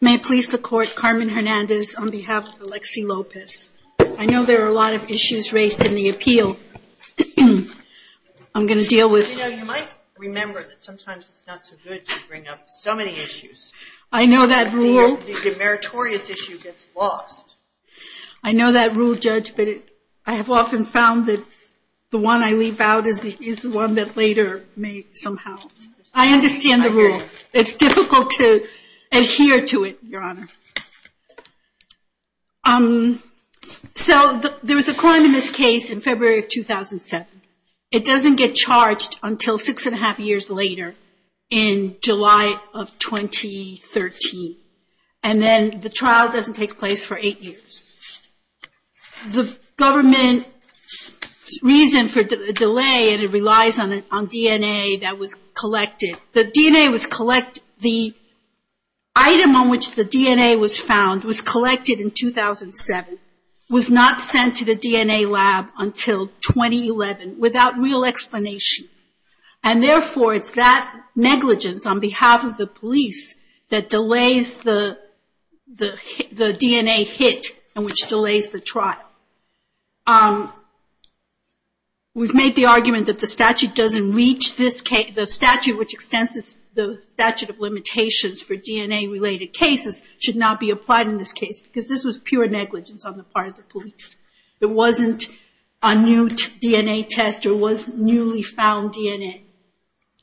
May I please the court, Carmen Hernandez on behalf of Alexsi Lopez. I know there are a I know that rule judge, but I have often found that the one I leave out is the one that later may somehow. I understand the rule. It's difficult to adhere to it, Your Honor. So there was a crime in this case in February of 2007. It doesn't get charged until six and a half years later in July of 2013. And then the trial doesn't take place for eight years. The government reason for the delay, and it relies on DNA that was collected. The DNA was collected, the item on which the DNA was collected, was the DNA that was collected. The DNA was found, was collected in 2007, was not sent to the DNA lab until 2011 without real explanation. And therefore, it's that negligence on behalf of the police that delays the DNA hit and which delays the trial. We've made the argument that the statute which extends the statute of limitations for DNA related cases should not be applied in this case because this was pure negligence on the part of the police. It wasn't a new DNA test or was newly found DNA.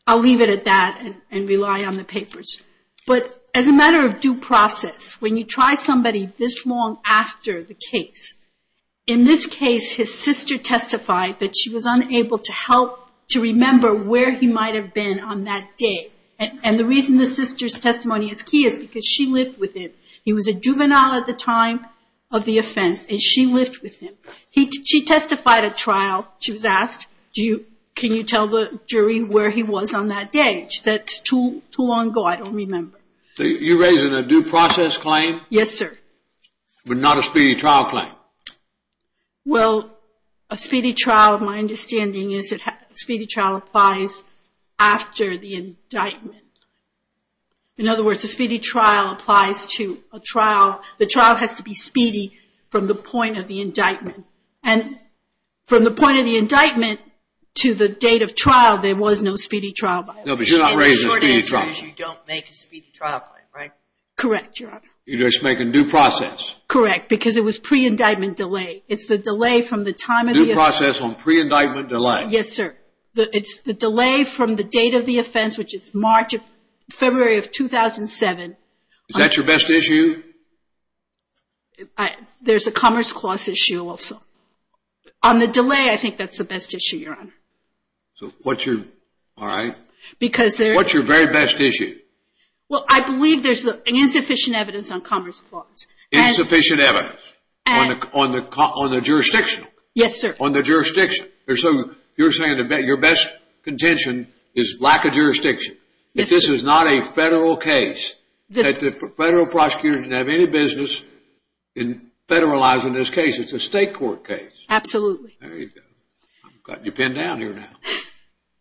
I'll leave it at that and rely on the papers. But as a matter of due process, when you try somebody this long after the case, in this case his sister testified that she was unable to help to remember where he might have been on that day. And the reason the sister's testimony is key is because she lived with him. He was a juvenile at the time of the offense and she lived with him. She testified at trial. She was asked, can you tell the jury where he was on that day? She said, it's too long ago, I don't remember. You're raising a due process claim? Yes, sir. But not a speedy trial claim? Well, a speedy trial, my understanding is that a speedy trial applies after the indictment. In other words, a speedy trial applies to a trial. The trial has to be speedy from the point of the indictment. And from the point of the indictment to the date of trial, there was no speedy trial. No, but you're not raising a speedy trial. The short answer is you don't make a speedy trial claim, right? Correct, Your Honor. You just make a due process. Correct, because it was pre-indictment delay. It's the delay from the time of the offense. Due process on pre-indictment delay. Yes, sir. It's the delay from the date of the offense, which is February of 2007. Is that your best issue? There's a Commerce Clause issue also. On the delay, I think that's the best issue, Your Honor. All right. What's your very best issue? Well, I believe there's insufficient evidence on Commerce Clause. Insufficient evidence on the jurisdictional? Yes, sir. On the jurisdiction. So you're saying that your best contention is lack of jurisdiction. Yes, sir. If this is not a federal case, that the federal prosecutors didn't have any business in federalizing this case. It's a state court case. Absolutely. There you go. I've got your pen down here now.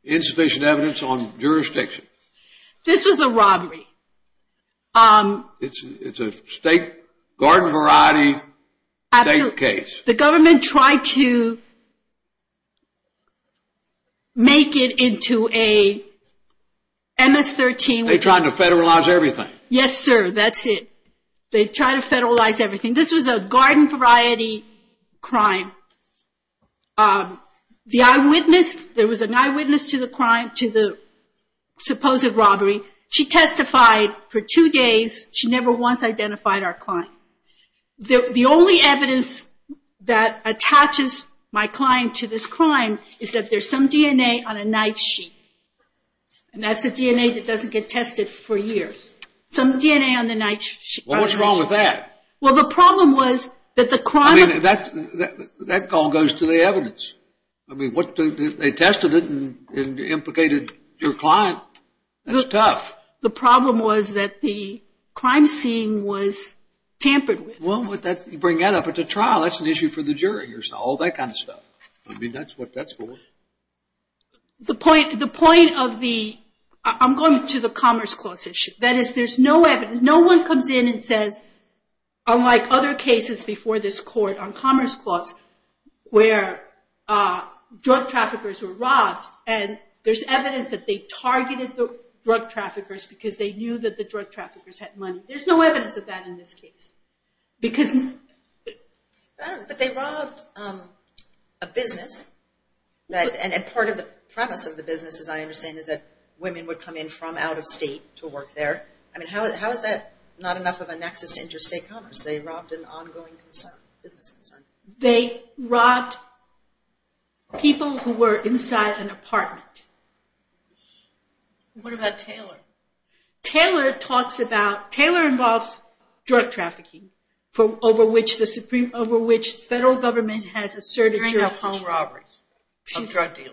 Insufficient evidence on jurisdiction. This was a robbery. It's a state garden variety state case. The government tried to make it into a MS-13. They tried to federalize everything. Yes, sir. That's it. They tried to federalize everything. This was a garden variety crime. The eyewitness, there was an eyewitness to the crime, to the supposed robbery. She testified for two days. She never once identified our client. The only evidence that attaches my client to this crime is that there's some DNA on a knife sheet. And that's the DNA that doesn't get tested for years. Some DNA on the knife sheet. Well, what's wrong with that? Well, the problem was that the crime... I mean, that all goes to the evidence. I mean, they tested it and implicated your client. That's tough. The problem was that the crime scene was tampered with. Well, you bring that up at the trial. That's an issue for the jury. All that kind of stuff. I mean, that's what that's for. The point of the... I'm going to the Commerce Clause issue. That is, there's no evidence. No one comes in and says, unlike other cases before this court on Commerce Clause, where drug traffickers were robbed and there's evidence that they targeted the drug traffickers because they knew that the drug traffickers had money. There's no evidence of that in this case. But they robbed a business. And part of the premise of the business, as I understand, is that women would come in from out of state to work there. I mean, how is that not enough of a nexus to interstate commerce? They robbed an ongoing business concern. They robbed people who were inside an apartment. What about Taylor? Taylor talks about... Taylor involves drug trafficking, over which the federal government has asserted jurisdiction. During a home robbery of drug dealers.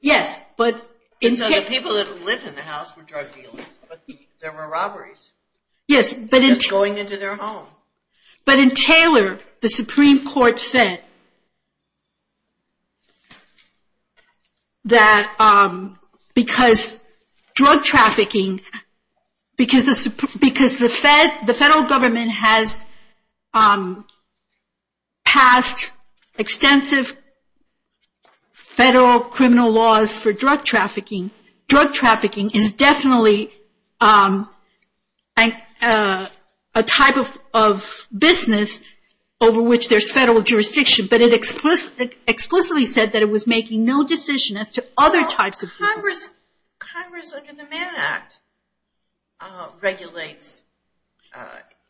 Yes, but... The people that lived in the house were drug dealers, but there were robberies. Yes, but... Just going into their home. But in Taylor, the Supreme Court said that because drug trafficking... Because the federal government has passed extensive federal criminal laws for drug trafficking. Drug trafficking is definitely a type of business over which there's federal jurisdiction. But it explicitly said that it was making no decision as to other types of businesses. Congress, under the Mann Act, regulates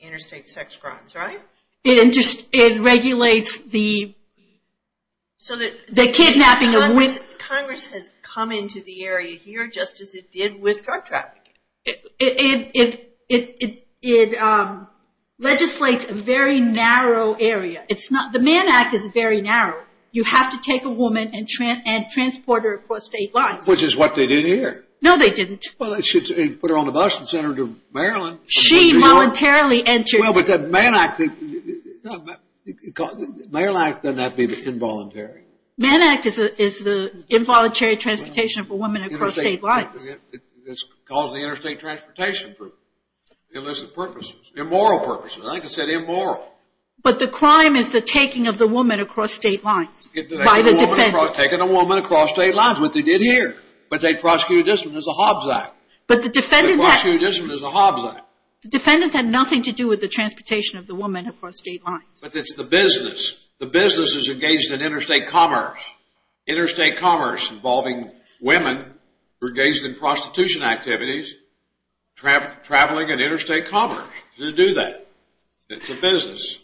interstate sex crimes, right? It regulates the kidnapping of women. Congress has come into the area here just as it did with drug trafficking. It legislates a very narrow area. The Mann Act is very narrow. You have to take a woman and transport her across state lines. Which is what they did here. No, they didn't. Well, they should have put her on a bus and sent her to Maryland. She voluntarily entered... Well, but the Mann Act... The Mann Act doesn't have to be involuntary. Mann Act is the involuntary transportation for women across state lines. It's causing interstate transportation for illicit purposes, immoral purposes. Like I said, immoral. But the crime is the taking of the woman across state lines by the defendant. Taking a woman across state lines is what they did here. But they prosecuted this one as a Hobbs Act. But the defendants... They prosecuted this one as a Hobbs Act. The defendants had nothing to do with the transportation of the woman across state lines. But it's the business. The business is engaged in interstate commerce. Interstate commerce involving women engaged in prostitution activities, traveling and interstate commerce to do that. It's a business.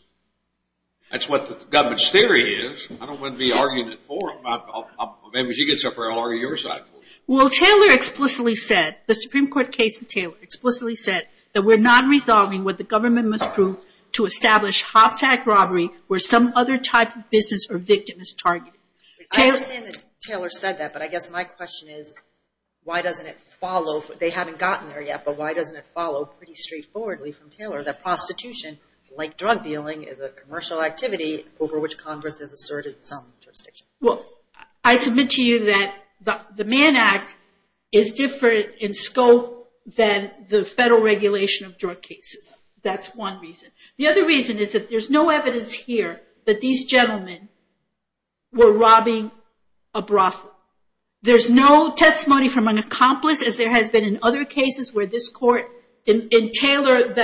That's what the government's theory is. I don't want to be arguing it for them. Maybe if she gets up here, I'll argue it on your side. Well, Taylor explicitly said, the Supreme Court case in Taylor explicitly said, that we're not resolving what the government must prove to establish Hobbs Act robbery where some other type of business or victim is targeted. I understand that Taylor said that. But I guess my question is, why doesn't it follow? They haven't gotten there yet. But why doesn't it follow pretty straightforwardly from Taylor that prostitution, like drug dealing, is a commercial activity over which Congress has asserted some jurisdiction? Well, I submit to you that the Mann Act is different in scope than the federal regulation of drug cases. That's one reason. The other reason is that there's no evidence here that these gentlemen were robbing a brothel. There's no testimony from an accomplice as there has been in other cases where this court, in Taylor,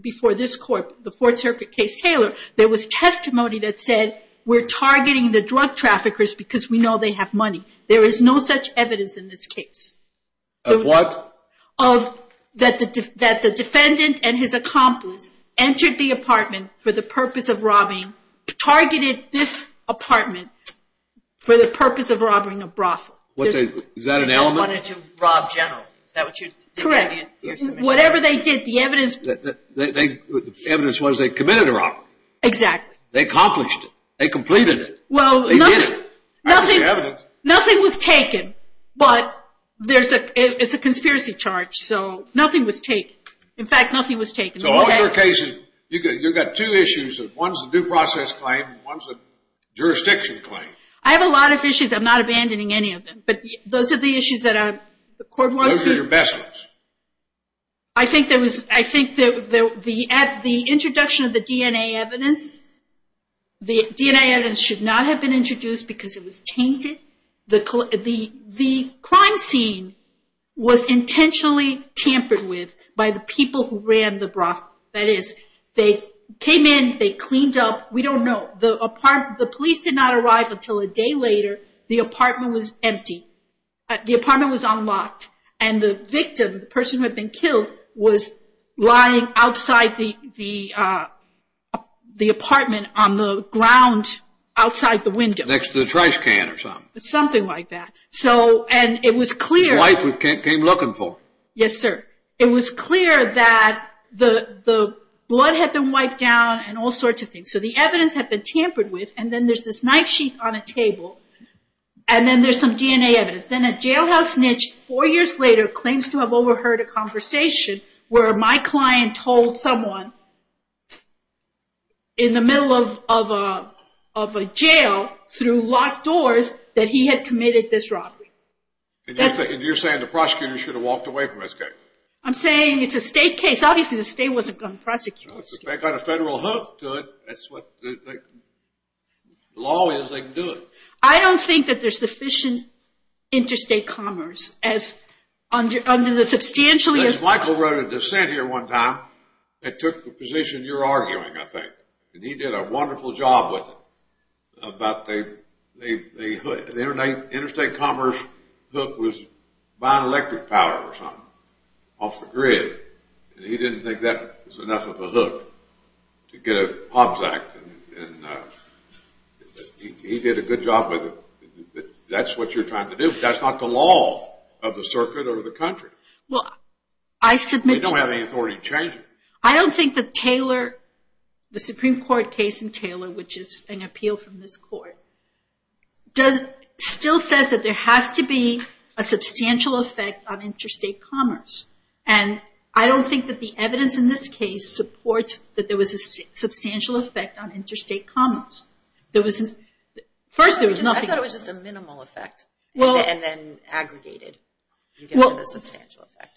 before this court, the Fourth Circuit case Taylor, there was testimony that said, we're targeting the drug traffickers because we know they have money. There is no such evidence in this case. Of what? That the defendant and his accomplice entered the apartment for the purpose of robbing, targeted this apartment for the purpose of robbing a brothel. Is that an element? They wanted to rob generally. Correct. Whatever they did, the evidence. The evidence was they committed a robbery. Exactly. They accomplished it. They completed it. They did it. Nothing was taken. But it's a conspiracy charge, so nothing was taken. In fact, nothing was taken. So all your cases, you've got two issues. One's a due process claim and one's a jurisdiction claim. I have a lot of issues. I'm not abandoning any of them. But those are the issues that the court wants to. Those are your best ones. I think that the introduction of the DNA evidence, the DNA evidence should not have been introduced because it was tainted. The crime scene was intentionally tampered with by the people who ran the brothel. That is, they came in, they cleaned up. We don't know. The police did not arrive until a day later. The apartment was empty. The apartment was unlocked. And the victim, the person who had been killed, was lying outside the apartment on the ground outside the window. Next to the trash can or something. Something like that. And it was clear. The wife who came looking for him. Yes, sir. It was clear that the blood had been wiped down and all sorts of things. So the evidence had been tampered with. And then there's this knife sheath on a table. And then there's some DNA evidence. Then a jailhouse snitch four years later claims to have overheard a conversation where my client told someone in the middle of a jail through locked doors that he had committed this robbery. And you're saying the prosecutor should have walked away from this case? I'm saying it's a state case. Obviously, the state wasn't going to prosecute this case. They've got a federal hook to it. That's what the law is. They can do it. I don't think that there's sufficient interstate commerce under the substantially enforced law. Judge Michael wrote a dissent here one time that took the position you're arguing, I think. And he did a wonderful job with it. The interstate commerce hook was buying electric power or something off the grid. And he didn't think that was enough of a hook to get a Hobbs Act. And he did a good job with it. That's what you're trying to do. That's not the law of the circuit or the country. They don't have any authority to change it. I don't think that Taylor, the Supreme Court case in Taylor, which is an appeal from this court, still says that there has to be a substantial effect on interstate commerce. And I don't think that the evidence in this case supports that there was a substantial effect on interstate commerce. First, there was nothing. I thought it was just a minimal effect and then aggregated. You get a substantial effect.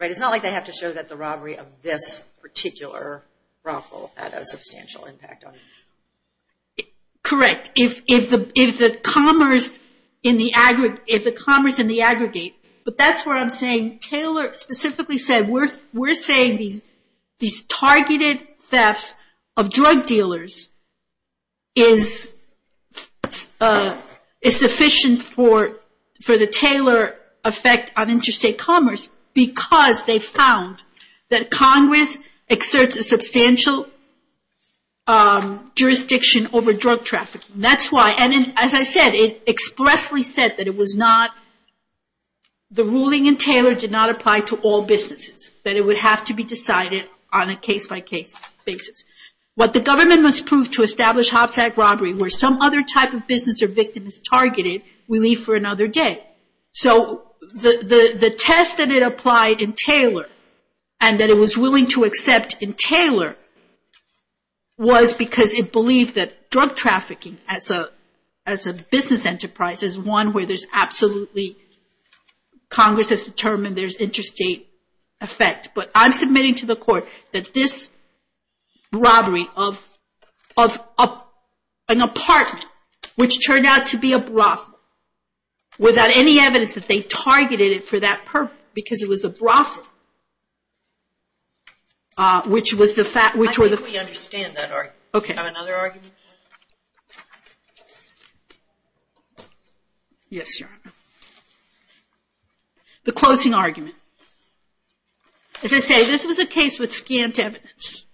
It's not like they have to show that the robbery of this particular raffle had a substantial impact on it. Correct. If the commerce and the aggregate. But that's what I'm saying. Taylor specifically said, we're saying these targeted thefts of drug dealers is sufficient for the Taylor effect exerts a substantial jurisdiction over drug trafficking. That's why, and as I said, it expressly said that the ruling in Taylor did not apply to all businesses, that it would have to be decided on a case-by-case basis. What the government must prove to establish hopsack robbery where some other type of business or victim is targeted, we leave for another day. The test that it applied in Taylor and that it was willing to accept in Taylor was because it believed that drug trafficking as a business enterprise is one where Congress has determined there's interstate effect. But I'm submitting to the court that this robbery of an apartment, which turned out to be a brothel, without any evidence that they targeted it for that purpose because it was a brothel, which was the fact... I think we understand that argument. Okay. Do you have another argument? Yes, Your Honor. The closing argument. As I say, this was a case with scant evidence.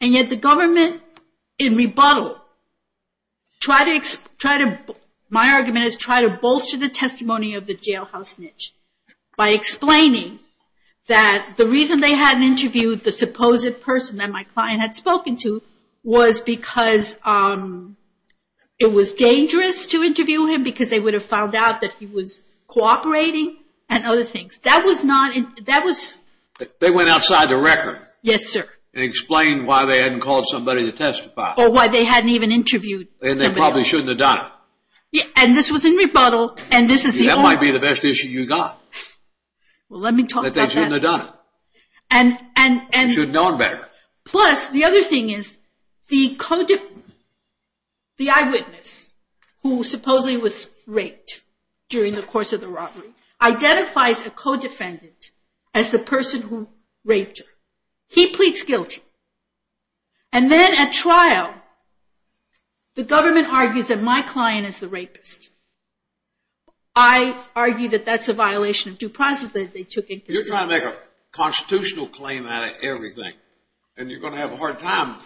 And yet the government in rebuttal tried to... My argument is try to bolster the testimony of the jailhouse snitch by explaining that the reason they hadn't interviewed the supposed person that my client had spoken to was because it was dangerous to interview him because they would have found out that he was cooperating and other things. That was not... They went outside the record. Yes, sir. And explained why they hadn't called somebody to testify. Or why they hadn't even interviewed somebody. And they probably shouldn't have done it. And this was in rebuttal, and this is the argument. That might be the best issue you got. Well, let me talk about that. That they shouldn't have done it. And... They should have known better. who supposedly was raped during the course of the robbery, identifies a co-defendant as the person who raped her. He pleads guilty. And then at trial, the government argues that my client is the rapist. I argue that that's a violation of due process that they took into consideration. You're trying to make a constitutional claim out of everything. And you're going to have a hard time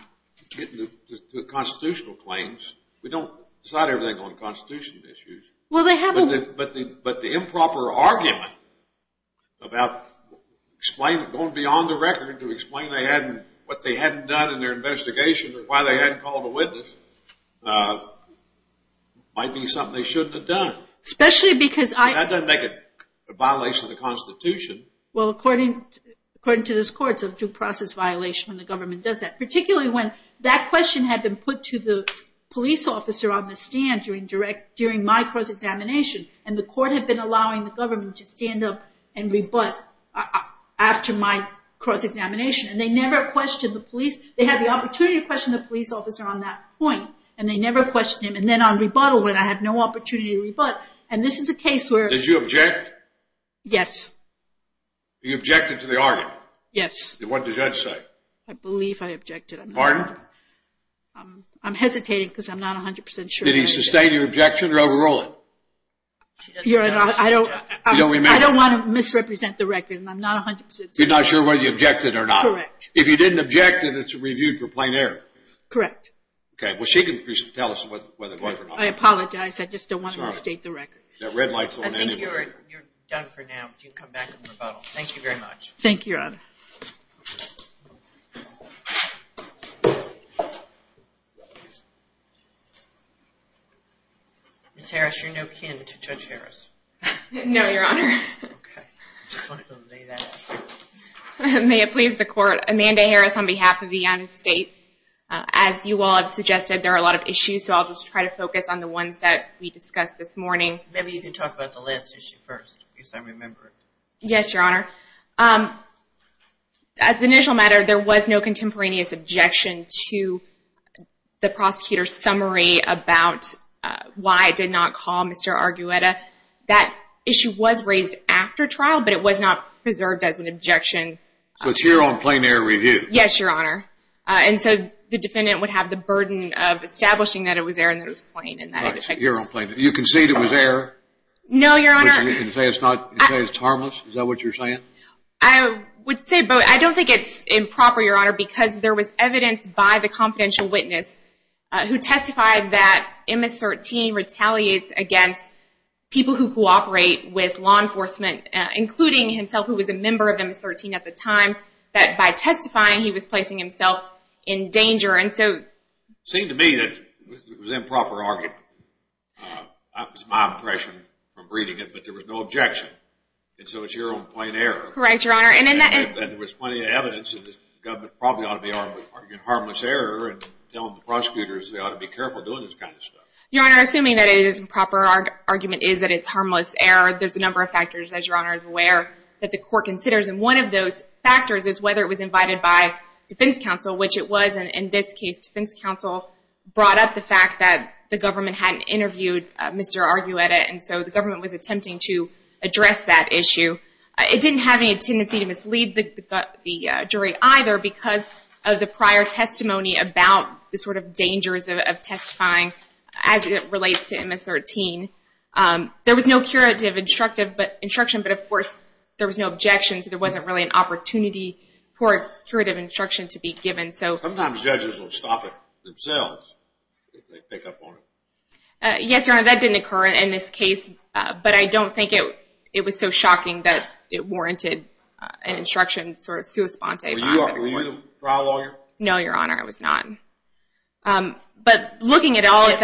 getting the constitutional claims. We don't decide everything on constitutional issues. Well, they have a... But the improper argument about going beyond the record to explain what they hadn't done in their investigation or why they hadn't called a witness might be something they shouldn't have done. Especially because I... That doesn't make it a violation of the Constitution. Well, according to this court, it's a due process violation when the government does that. Particularly when that question had been put to the police officer on the stand during my cross-examination. And the court had been allowing the government to stand up and rebut after my cross-examination. And they never questioned the police. They had the opportunity to question the police officer on that point. And they never questioned him. And then on rebuttal, when I had no opportunity to rebut. And this is a case where... Did you object? Yes. You objected to the argument? Yes. What did the judge say? I believe I objected. Pardon? I'm hesitating because I'm not 100% sure. Did he sustain your objection or overrule it? I don't want to misrepresent the record. I'm not 100% sure. You're not sure whether you objected or not? Correct. If you didn't object, then it's reviewed for plain error. Correct. Okay. Well, she can tell us whether it was or not. I apologize. I just don't want to misstate the record. That red light's on anyway. You can come back for rebuttal. Thank you very much. Thank you, Your Honor. Ms. Harris, you're no kin to Judge Harris. No, Your Honor. Okay. I just wanted to lay that out. May it please the Court, Amanda Harris on behalf of the United States. As you all have suggested, there are a lot of issues, so I'll just try to focus on the ones that we discussed this morning. Maybe you can talk about the last issue first, because I remember it. Yes, Your Honor. As an initial matter, there was no contemporaneous objection to the prosecutor's summary about why it did not call Mr. Argueta. That issue was raised after trial, but it was not preserved as an objection. So it's here on plain error review? Yes, Your Honor. And so the defendant would have the burden of establishing that it was error and that it was plain. You concede it was error? No, Your Honor. And you can say it's harmless? Is that what you're saying? I would say both. I don't think it's improper, Your Honor, because there was evidence by the confidential witness who testified that MS-13 retaliates against people who cooperate with law enforcement, including himself, who was a member of MS-13 at the time, that by testifying he was placing himself in danger. And so it seemed to me that it was improper argument. That was my impression from reading it, but there was no objection. And so it's here on plain error? Correct, Your Honor. And there was plenty of evidence that the government probably ought to be arguing harmless error and tell the prosecutors they ought to be careful doing this kind of stuff. Your Honor, assuming that it is improper argument is that it's harmless error, there's a number of factors, as Your Honor is aware, that the court considers. And one of those factors is whether it was invited by defense counsel, which it was. In this case, defense counsel brought up the fact that the government hadn't interviewed Mr. Argueta, and so the government was attempting to address that issue. It didn't have any tendency to mislead the jury either because of the prior testimony about the sort of dangers of testifying as it relates to MS-13. There was no curative instruction, but, of course, there was no objection, so there wasn't really an opportunity for curative instruction to be given. Sometimes judges will stop it themselves if they pick up on it. Yes, Your Honor, that didn't occur in this case, but I don't think it was so shocking that it warranted an instruction sort of sua sponte. Were you a trial lawyer? No, Your Honor, I was not. But looking at all of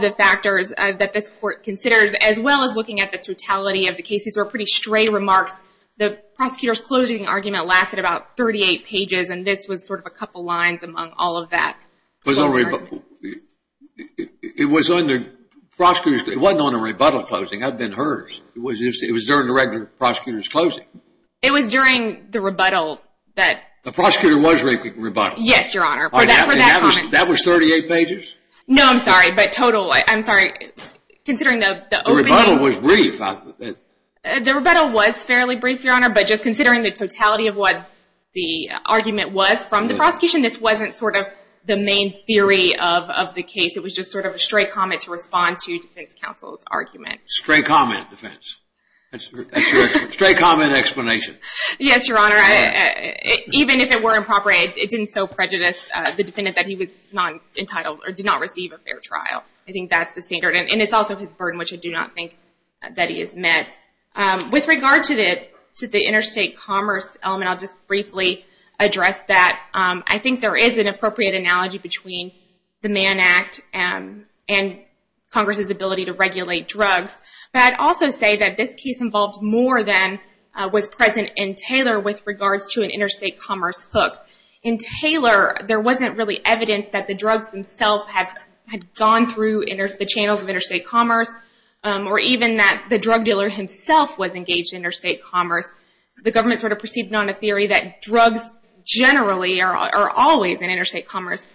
the factors that this court considers, as well as looking at the totality of the case, these were pretty stray remarks. The prosecutor's closing argument lasted about 38 pages, and this was sort of a couple lines among all of that. It wasn't on a rebuttal closing. I've been heard. It was during the regular prosecutor's closing. It was during the rebuttal. The prosecutor was rebuttal. Yes, Your Honor. That was 38 pages? No, I'm sorry. But total, I'm sorry. The rebuttal was brief. The rebuttal was fairly brief, Your Honor, but just considering the totality of what the argument was from the prosecution, this wasn't sort of the main theory of the case. It was just sort of a stray comment to respond to defense counsel's argument. Stray comment, defense. That's your stray comment explanation. Yes, Your Honor. Even if it were improper, it didn't so prejudice the defendant that he was not entitled or did not receive a fair trial. I think that's the standard. And it's also his burden, which I do not think that he has met. With regard to the interstate commerce element, I'll just briefly address that. I think there is an appropriate analogy between the Mann Act and Congress's ability to regulate drugs. But I'd also say that this case involved more than was present in Taylor with regards to an interstate commerce hook. In Taylor, there wasn't really evidence that the drugs themselves had gone through the channels of interstate commerce or even that the drug dealer himself was engaged in interstate commerce. The government sort of proceeded on a theory that drugs generally are always in interstate commerce.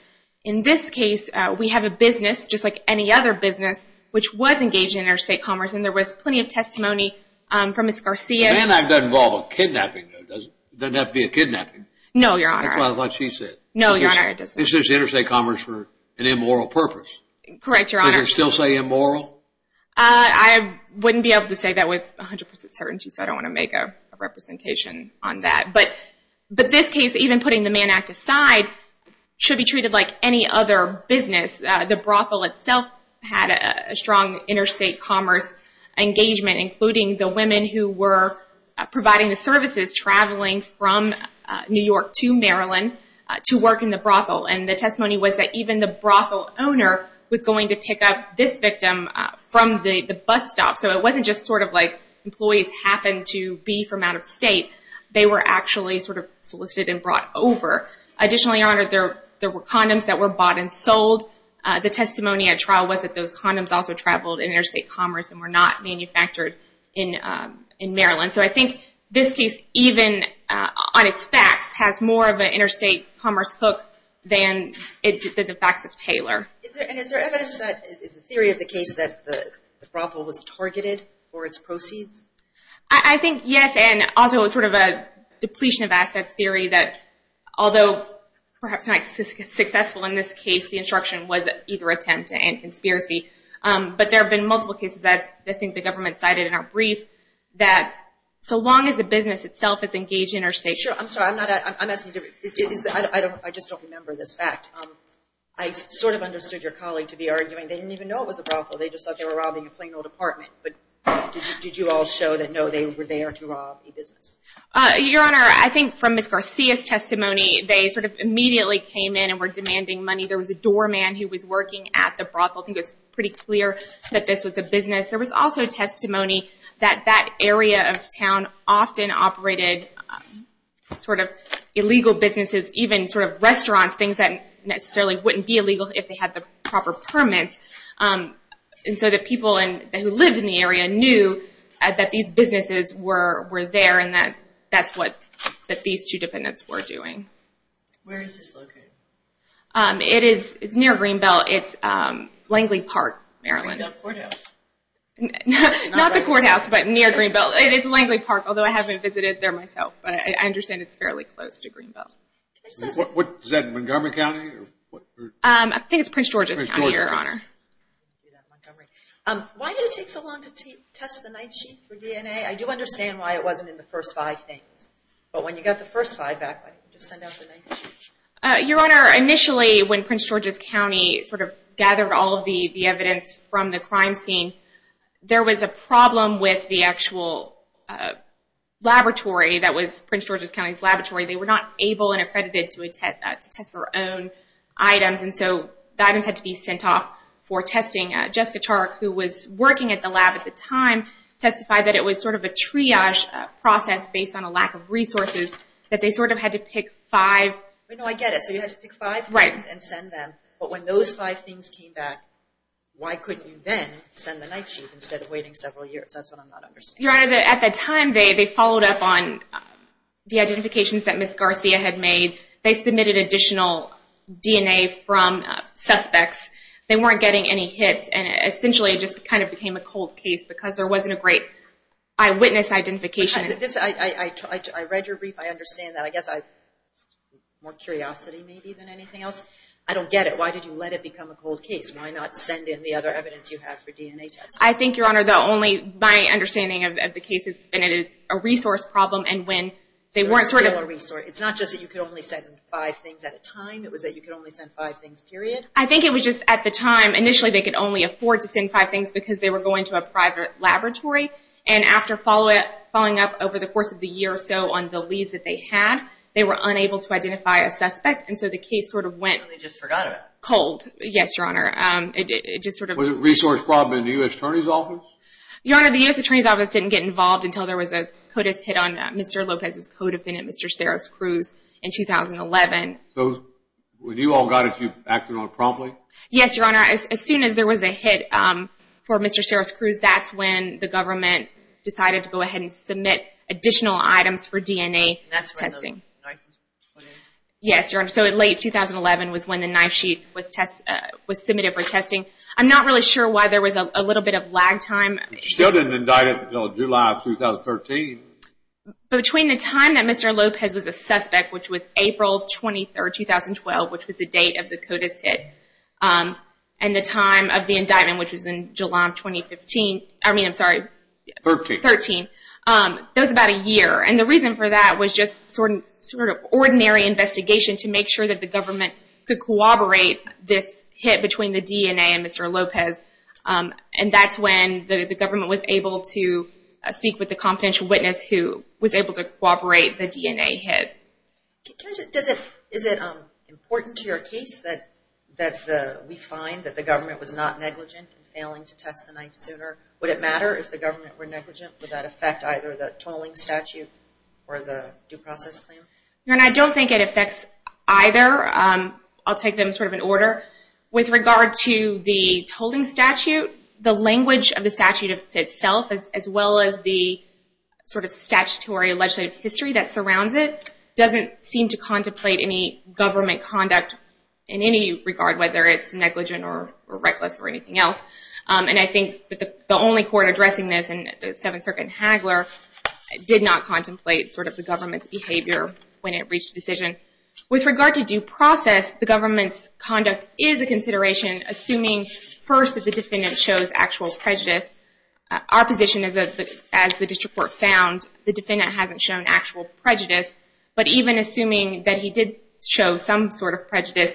In this case, we have a business, just like any other business, which was engaged in interstate commerce. And there was plenty of testimony from Ms. Garcia. The Mann Act doesn't involve a kidnapping. It doesn't have to be a kidnapping. No, Your Honor. That's what she said. No, Your Honor, it doesn't. It's just interstate commerce for an immoral purpose. Correct, Your Honor. Did her still say immoral? I wouldn't be able to say that with 100% certainty, so I don't want to make a representation on that. But this case, even putting the Mann Act aside, should be treated like any other business. The brothel itself had a strong interstate commerce engagement, including the women who were providing the services traveling from New York to Maryland to work in the brothel. And the testimony was that even the brothel owner was going to pick up this victim from the bus stop. So it wasn't just sort of like employees happened to be from out of state. They were actually sort of solicited and brought over. Additionally, Your Honor, there were condoms that were bought and sold. The testimony at trial was that those condoms also traveled in interstate commerce and were not manufactured in Maryland. So I think this case, even on its facts, has more of an interstate commerce hook than the facts of Taylor. And is there evidence that the theory of the case that the brothel was targeted for its proceeds? I think, yes, and also it was sort of a depletion of assets theory that, although perhaps not successful in this case, the instruction was either attempt to end conspiracy. But there have been multiple cases that I think the government cited in our brief that so long as the business itself is engaged in interstate commerce I just don't remember this fact. I sort of understood your colleague to be arguing they didn't even know it was a brothel. They just thought they were robbing a plain old apartment. But did you all show that, no, they were there to rob a business? Your Honor, I think from Ms. Garcia's testimony, they sort of immediately came in and were demanding money. There was a doorman who was working at the brothel. I think it was pretty clear that this was a business. There was also testimony that that area of town often operated sort of illegal businesses, even sort of restaurants, things that necessarily wouldn't be illegal if they had the proper permits. And so the people who lived in the area knew that these businesses were there and that's what these two defendants were doing. Where is this located? It's near Greenbelt. It's Langley Park, Maryland. Not the courthouse. Not the courthouse, but near Greenbelt. It is Langley Park, although I haven't visited there myself. But I understand it's fairly close to Greenbelt. Is that Montgomery County? I think it's Prince George's County, Your Honor. Why did it take so long to test the knife sheath for DNA? I do understand why it wasn't in the first five things. But when you got the first five back, just send out the knife sheath. Your Honor, initially when Prince George's County sort of gathered all of the evidence from the crime scene, there was a problem with the actual laboratory that was Prince George's County's laboratory. They were not able and accredited to test their own items, and so the items had to be sent off for testing. Jessica Chark, who was working at the lab at the time, testified that it was sort of a triage process based on a lack of resources, that they sort of had to pick five. I get it. So you had to pick five things and send them. But when those five things came back, why couldn't you then send the knife sheath instead of waiting several years? That's what I'm not understanding. Your Honor, at the time, they followed up on the identifications that Ms. Garcia had made. They submitted additional DNA from suspects. They weren't getting any hits, and essentially it just kind of became a cold case because there wasn't a great eyewitness identification. I read your brief. I understand that. I guess I have more curiosity maybe than anything else. I don't get it. Why did you let it become a cold case? Why not send in the other evidence you have for DNA testing? I think, Your Honor, my understanding of the case has been it is a resource problem. It's not just that you could only send five things at a time. It was that you could only send five things, period. I think it was just at the time, initially they could only afford to send five things because they were going to a private laboratory. And after following up over the course of the year or so on the leads that they had, they were unable to identify a suspect, They just forgot about it. Yes, Your Honor. Was it a resource problem in the U.S. Attorney's Office? Your Honor, the U.S. Attorney's Office didn't get involved until there was a CODIS hit on Mr. Lopez's codefendant, Mr. Ceres Cruz, in 2011. So when you all got it, you acted on it promptly? Yes, Your Honor. As soon as there was a hit for Mr. Ceres Cruz, that's when the government decided to go ahead and submit additional items for DNA testing. And that's when the knife was put in? Yes, Your Honor. So late 2011 was when the knife sheath was submitted for testing. I'm not really sure why there was a little bit of lag time. You still didn't indict it until July of 2013? Between the time that Mr. Lopez was a suspect, which was April 23, 2012, which was the date of the CODIS hit, and the time of the indictment, which was in July of 2015, I mean, I'm sorry, 13. 13. That was about a year. And the reason for that was just sort of ordinary investigation to make sure that the government could corroborate this hit between the DNA and Mr. Lopez. And that's when the government was able to speak with a confidential witness who was able to corroborate the DNA hit. Is it important to your case that we find that the government was not negligent in failing to test the knife sooner? Would it matter if the government were negligent? Would that affect either the tolling statute or the due process claim? I don't think it affects either. I'll take them sort of in order. With regard to the tolling statute, the language of the statute itself, as well as the sort of statutory legislative history that surrounds it, doesn't seem to contemplate any government conduct in any regard, whether it's negligent or reckless or anything else. And I think that the only court addressing this in the Seventh Circuit in Hagler did not contemplate sort of the government's behavior when it reached a decision. With regard to due process, the government's conduct is a consideration, assuming first that the defendant shows actual prejudice. Our position is that as the district court found, the defendant hasn't shown actual prejudice. But even assuming that he did show some sort of prejudice,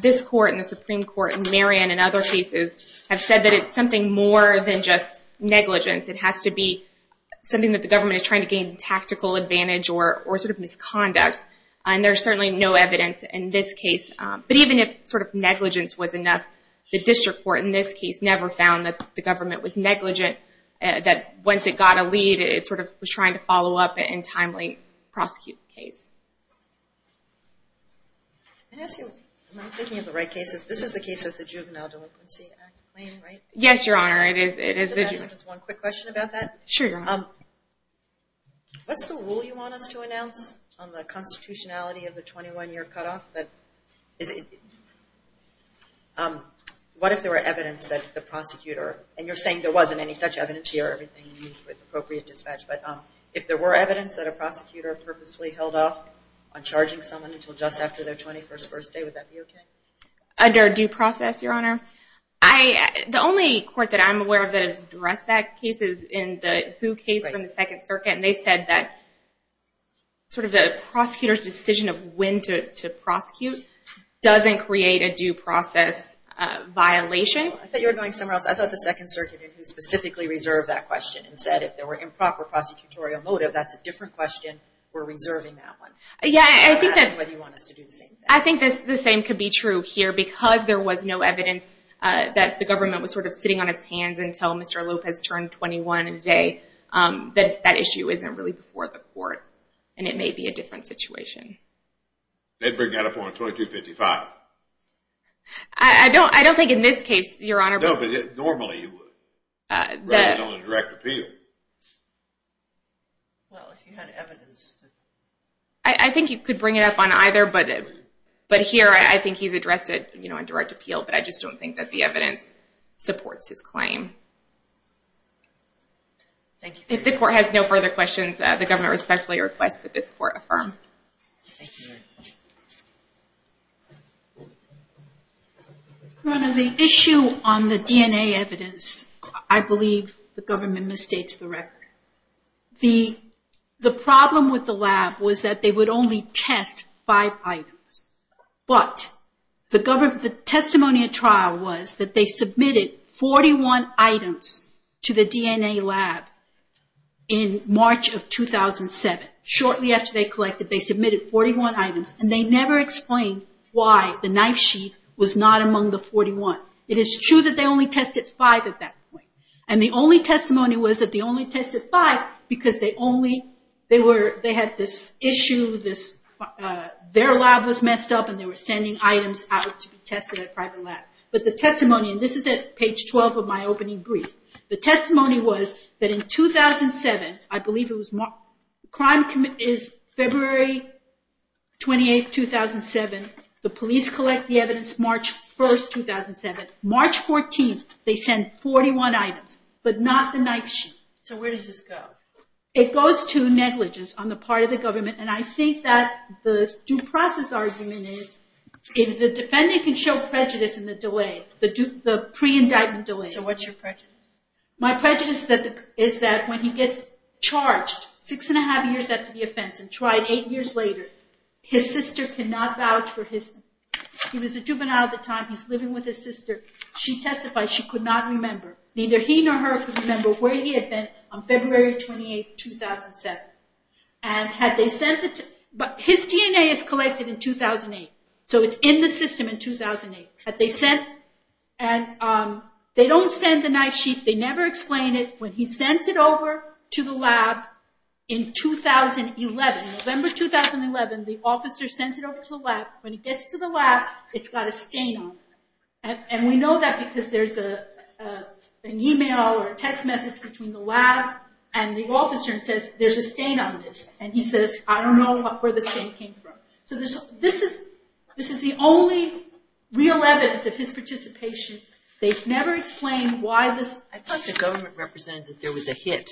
this court and the Supreme Court and Marion and other cases have said that it's something more than just negligence. It has to be something that the government is trying to gain tactical advantage or sort of misconduct. And there's certainly no evidence in this case. But even if sort of negligence was enough, the district court in this case never found that the government was negligent, that once it got a lead it sort of was trying to follow up in a timely prosecute case. I'm thinking of the right cases. This is the case of the Juvenile Delinquency Act claim, right? Yes, Your Honor. Just one quick question about that. Sure, Your Honor. What's the rule you want us to announce on the constitutionality of the 21-year cutoff? What if there were evidence that the prosecutor, and you're saying there wasn't any such evidence here, everything you need with appropriate dispatch, but if there were evidence that a prosecutor purposefully held off on charging someone until just after their 21st birthday, would that be okay? Under due process, Your Honor? The only court that I'm aware of that has addressed that case is in the Hu case from the Second Circuit, and they said that sort of the prosecutor's decision of when to prosecute doesn't create a due process violation. I thought you were going somewhere else. I thought the Second Circuit specifically reserved that question and said if there were improper prosecutorial motive, that's a different question. We're reserving that one. Yeah, I think that's what you want us to do. I think the same could be true here, because there was no evidence that the government was sort of sitting on its hands until Mr. Lopez turned 21 a day, that that issue isn't really before the court, and it may be a different situation. They'd bring that up on 2255. I don't think in this case, Your Honor. No, but normally you would, rather than on a direct appeal. Well, if you had evidence. I think you could bring it up on either, but here I think he's addressed it on direct appeal, but I just don't think that the evidence supports his claim. If the court has no further questions, the government respectfully requests that this court affirm. Your Honor, the issue on the DNA evidence, I believe the government misstates the record. The problem with the lab was that they would only test five items, but the testimony at trial was that they submitted 41 items to the DNA lab in March of 2007. Shortly after they collected, they submitted 41 items, and they never explained why the knife sheath was not among the 41. It is true that they only tested five at that point, and the only testimony was that they only tested five because they had this issue, their lab was messed up, and they were sending items out to be tested at a private lab. But the testimony, and this is at page 12 of my opening brief, the testimony was that in 2007, I believe it was February 28, 2007, the police collect the evidence March 1, 2007. March 14, they send 41 items, but not the knife sheath. So where does this go? It goes to negligence on the part of the government, and I think that the due process argument is if the defendant can show prejudice in the delay, the pre-indictment delay. So what's your prejudice? My prejudice is that when he gets charged six and a half years after the offense and tried eight years later, his sister cannot vouch for him. He was a juvenile at the time. He's living with his sister. She testified she could not remember. Neither he nor her could remember where he had been on February 28, 2007. His DNA is collected in 2008, so it's in the system in 2008. They don't send the knife sheath. They never explain it. When he sends it over to the lab in 2011, November 2011, the officer sends it over to the lab. When he gets to the lab, it's got a stain on it. And we know that because there's an e-mail or a text message between the lab and the officer and says, there's a stain on this, and he says, I don't know where the stain came from. So this is the only real evidence of his participation. They've never explained why this – I thought the government represented that there was a hit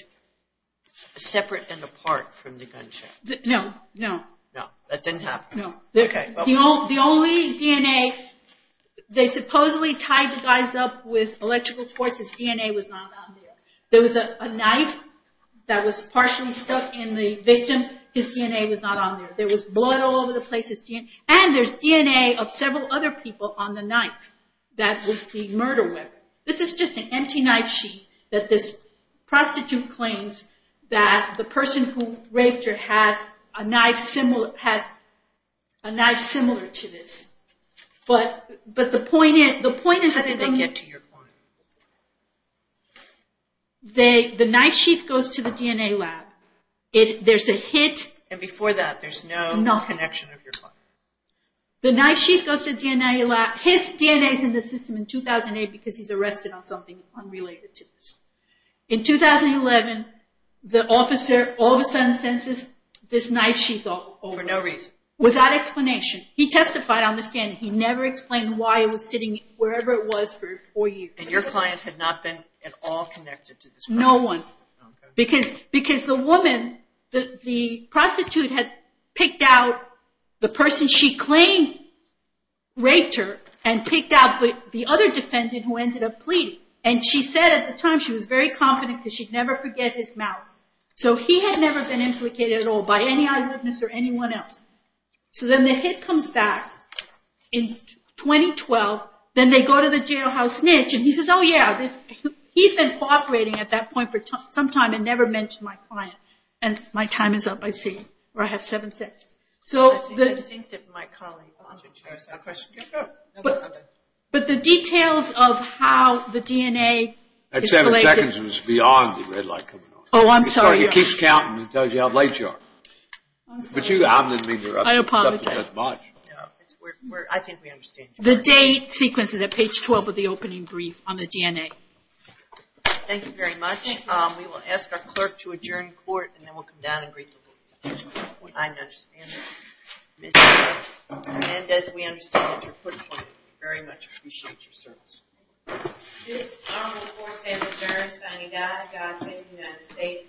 separate and apart from the gunshot. No, no. No, that didn't happen. The only DNA – they supposedly tied the guys up with electrical cords. His DNA was not on there. There was a knife that was partially stuck in the victim. His DNA was not on there. There was blood all over the place. And there's DNA of several other people on the knife that was the murder weapon. This is just an empty knife sheath that this prostitute claims that the person who raped her had a knife similar to this. But the point is – How did they get to your point? The knife sheath goes to the DNA lab. There's a hit – And before that, there's no connection of your client. The knife sheath goes to the DNA lab. His DNA is in the system in 2008 because he's arrested on something unrelated to this. In 2011, the officer all of a sudden sends this knife sheath over. For no reason? Without explanation. He testified on the stand. He never explained why it was sitting wherever it was for four years. And your client had not been at all connected to this prostitute? No one. Because the prostitute had picked out the person she claimed raped her and picked out the other defendant who ended up pleading. And she said at the time she was very confident because she'd never forget his mouth. So he had never been implicated at all by any eyewitness or anyone else. So then the hit comes back in 2012. Then they go to the jailhouse snitch and he says, oh yeah, he'd been cooperating at that point for some time and never mentioned my client. And my time is up, I see. Or I have seven seconds. I think that my colleague on the chair has a question. But the details of how the DNA is related. That seven seconds is beyond the red light coming on. Oh, I'm sorry. It keeps counting and tells you how late you are. I apologize. I think we understand. The date sequence is at page 12 of the opening brief on the DNA. Thank you very much. We will ask our clerk to adjourn court and then we'll come down and greet the board. I understand that. And as we understand that you're put on, we very much appreciate your service. This is the fourth day of adjournment. Signing off, God save the United States and this conference is adjourned.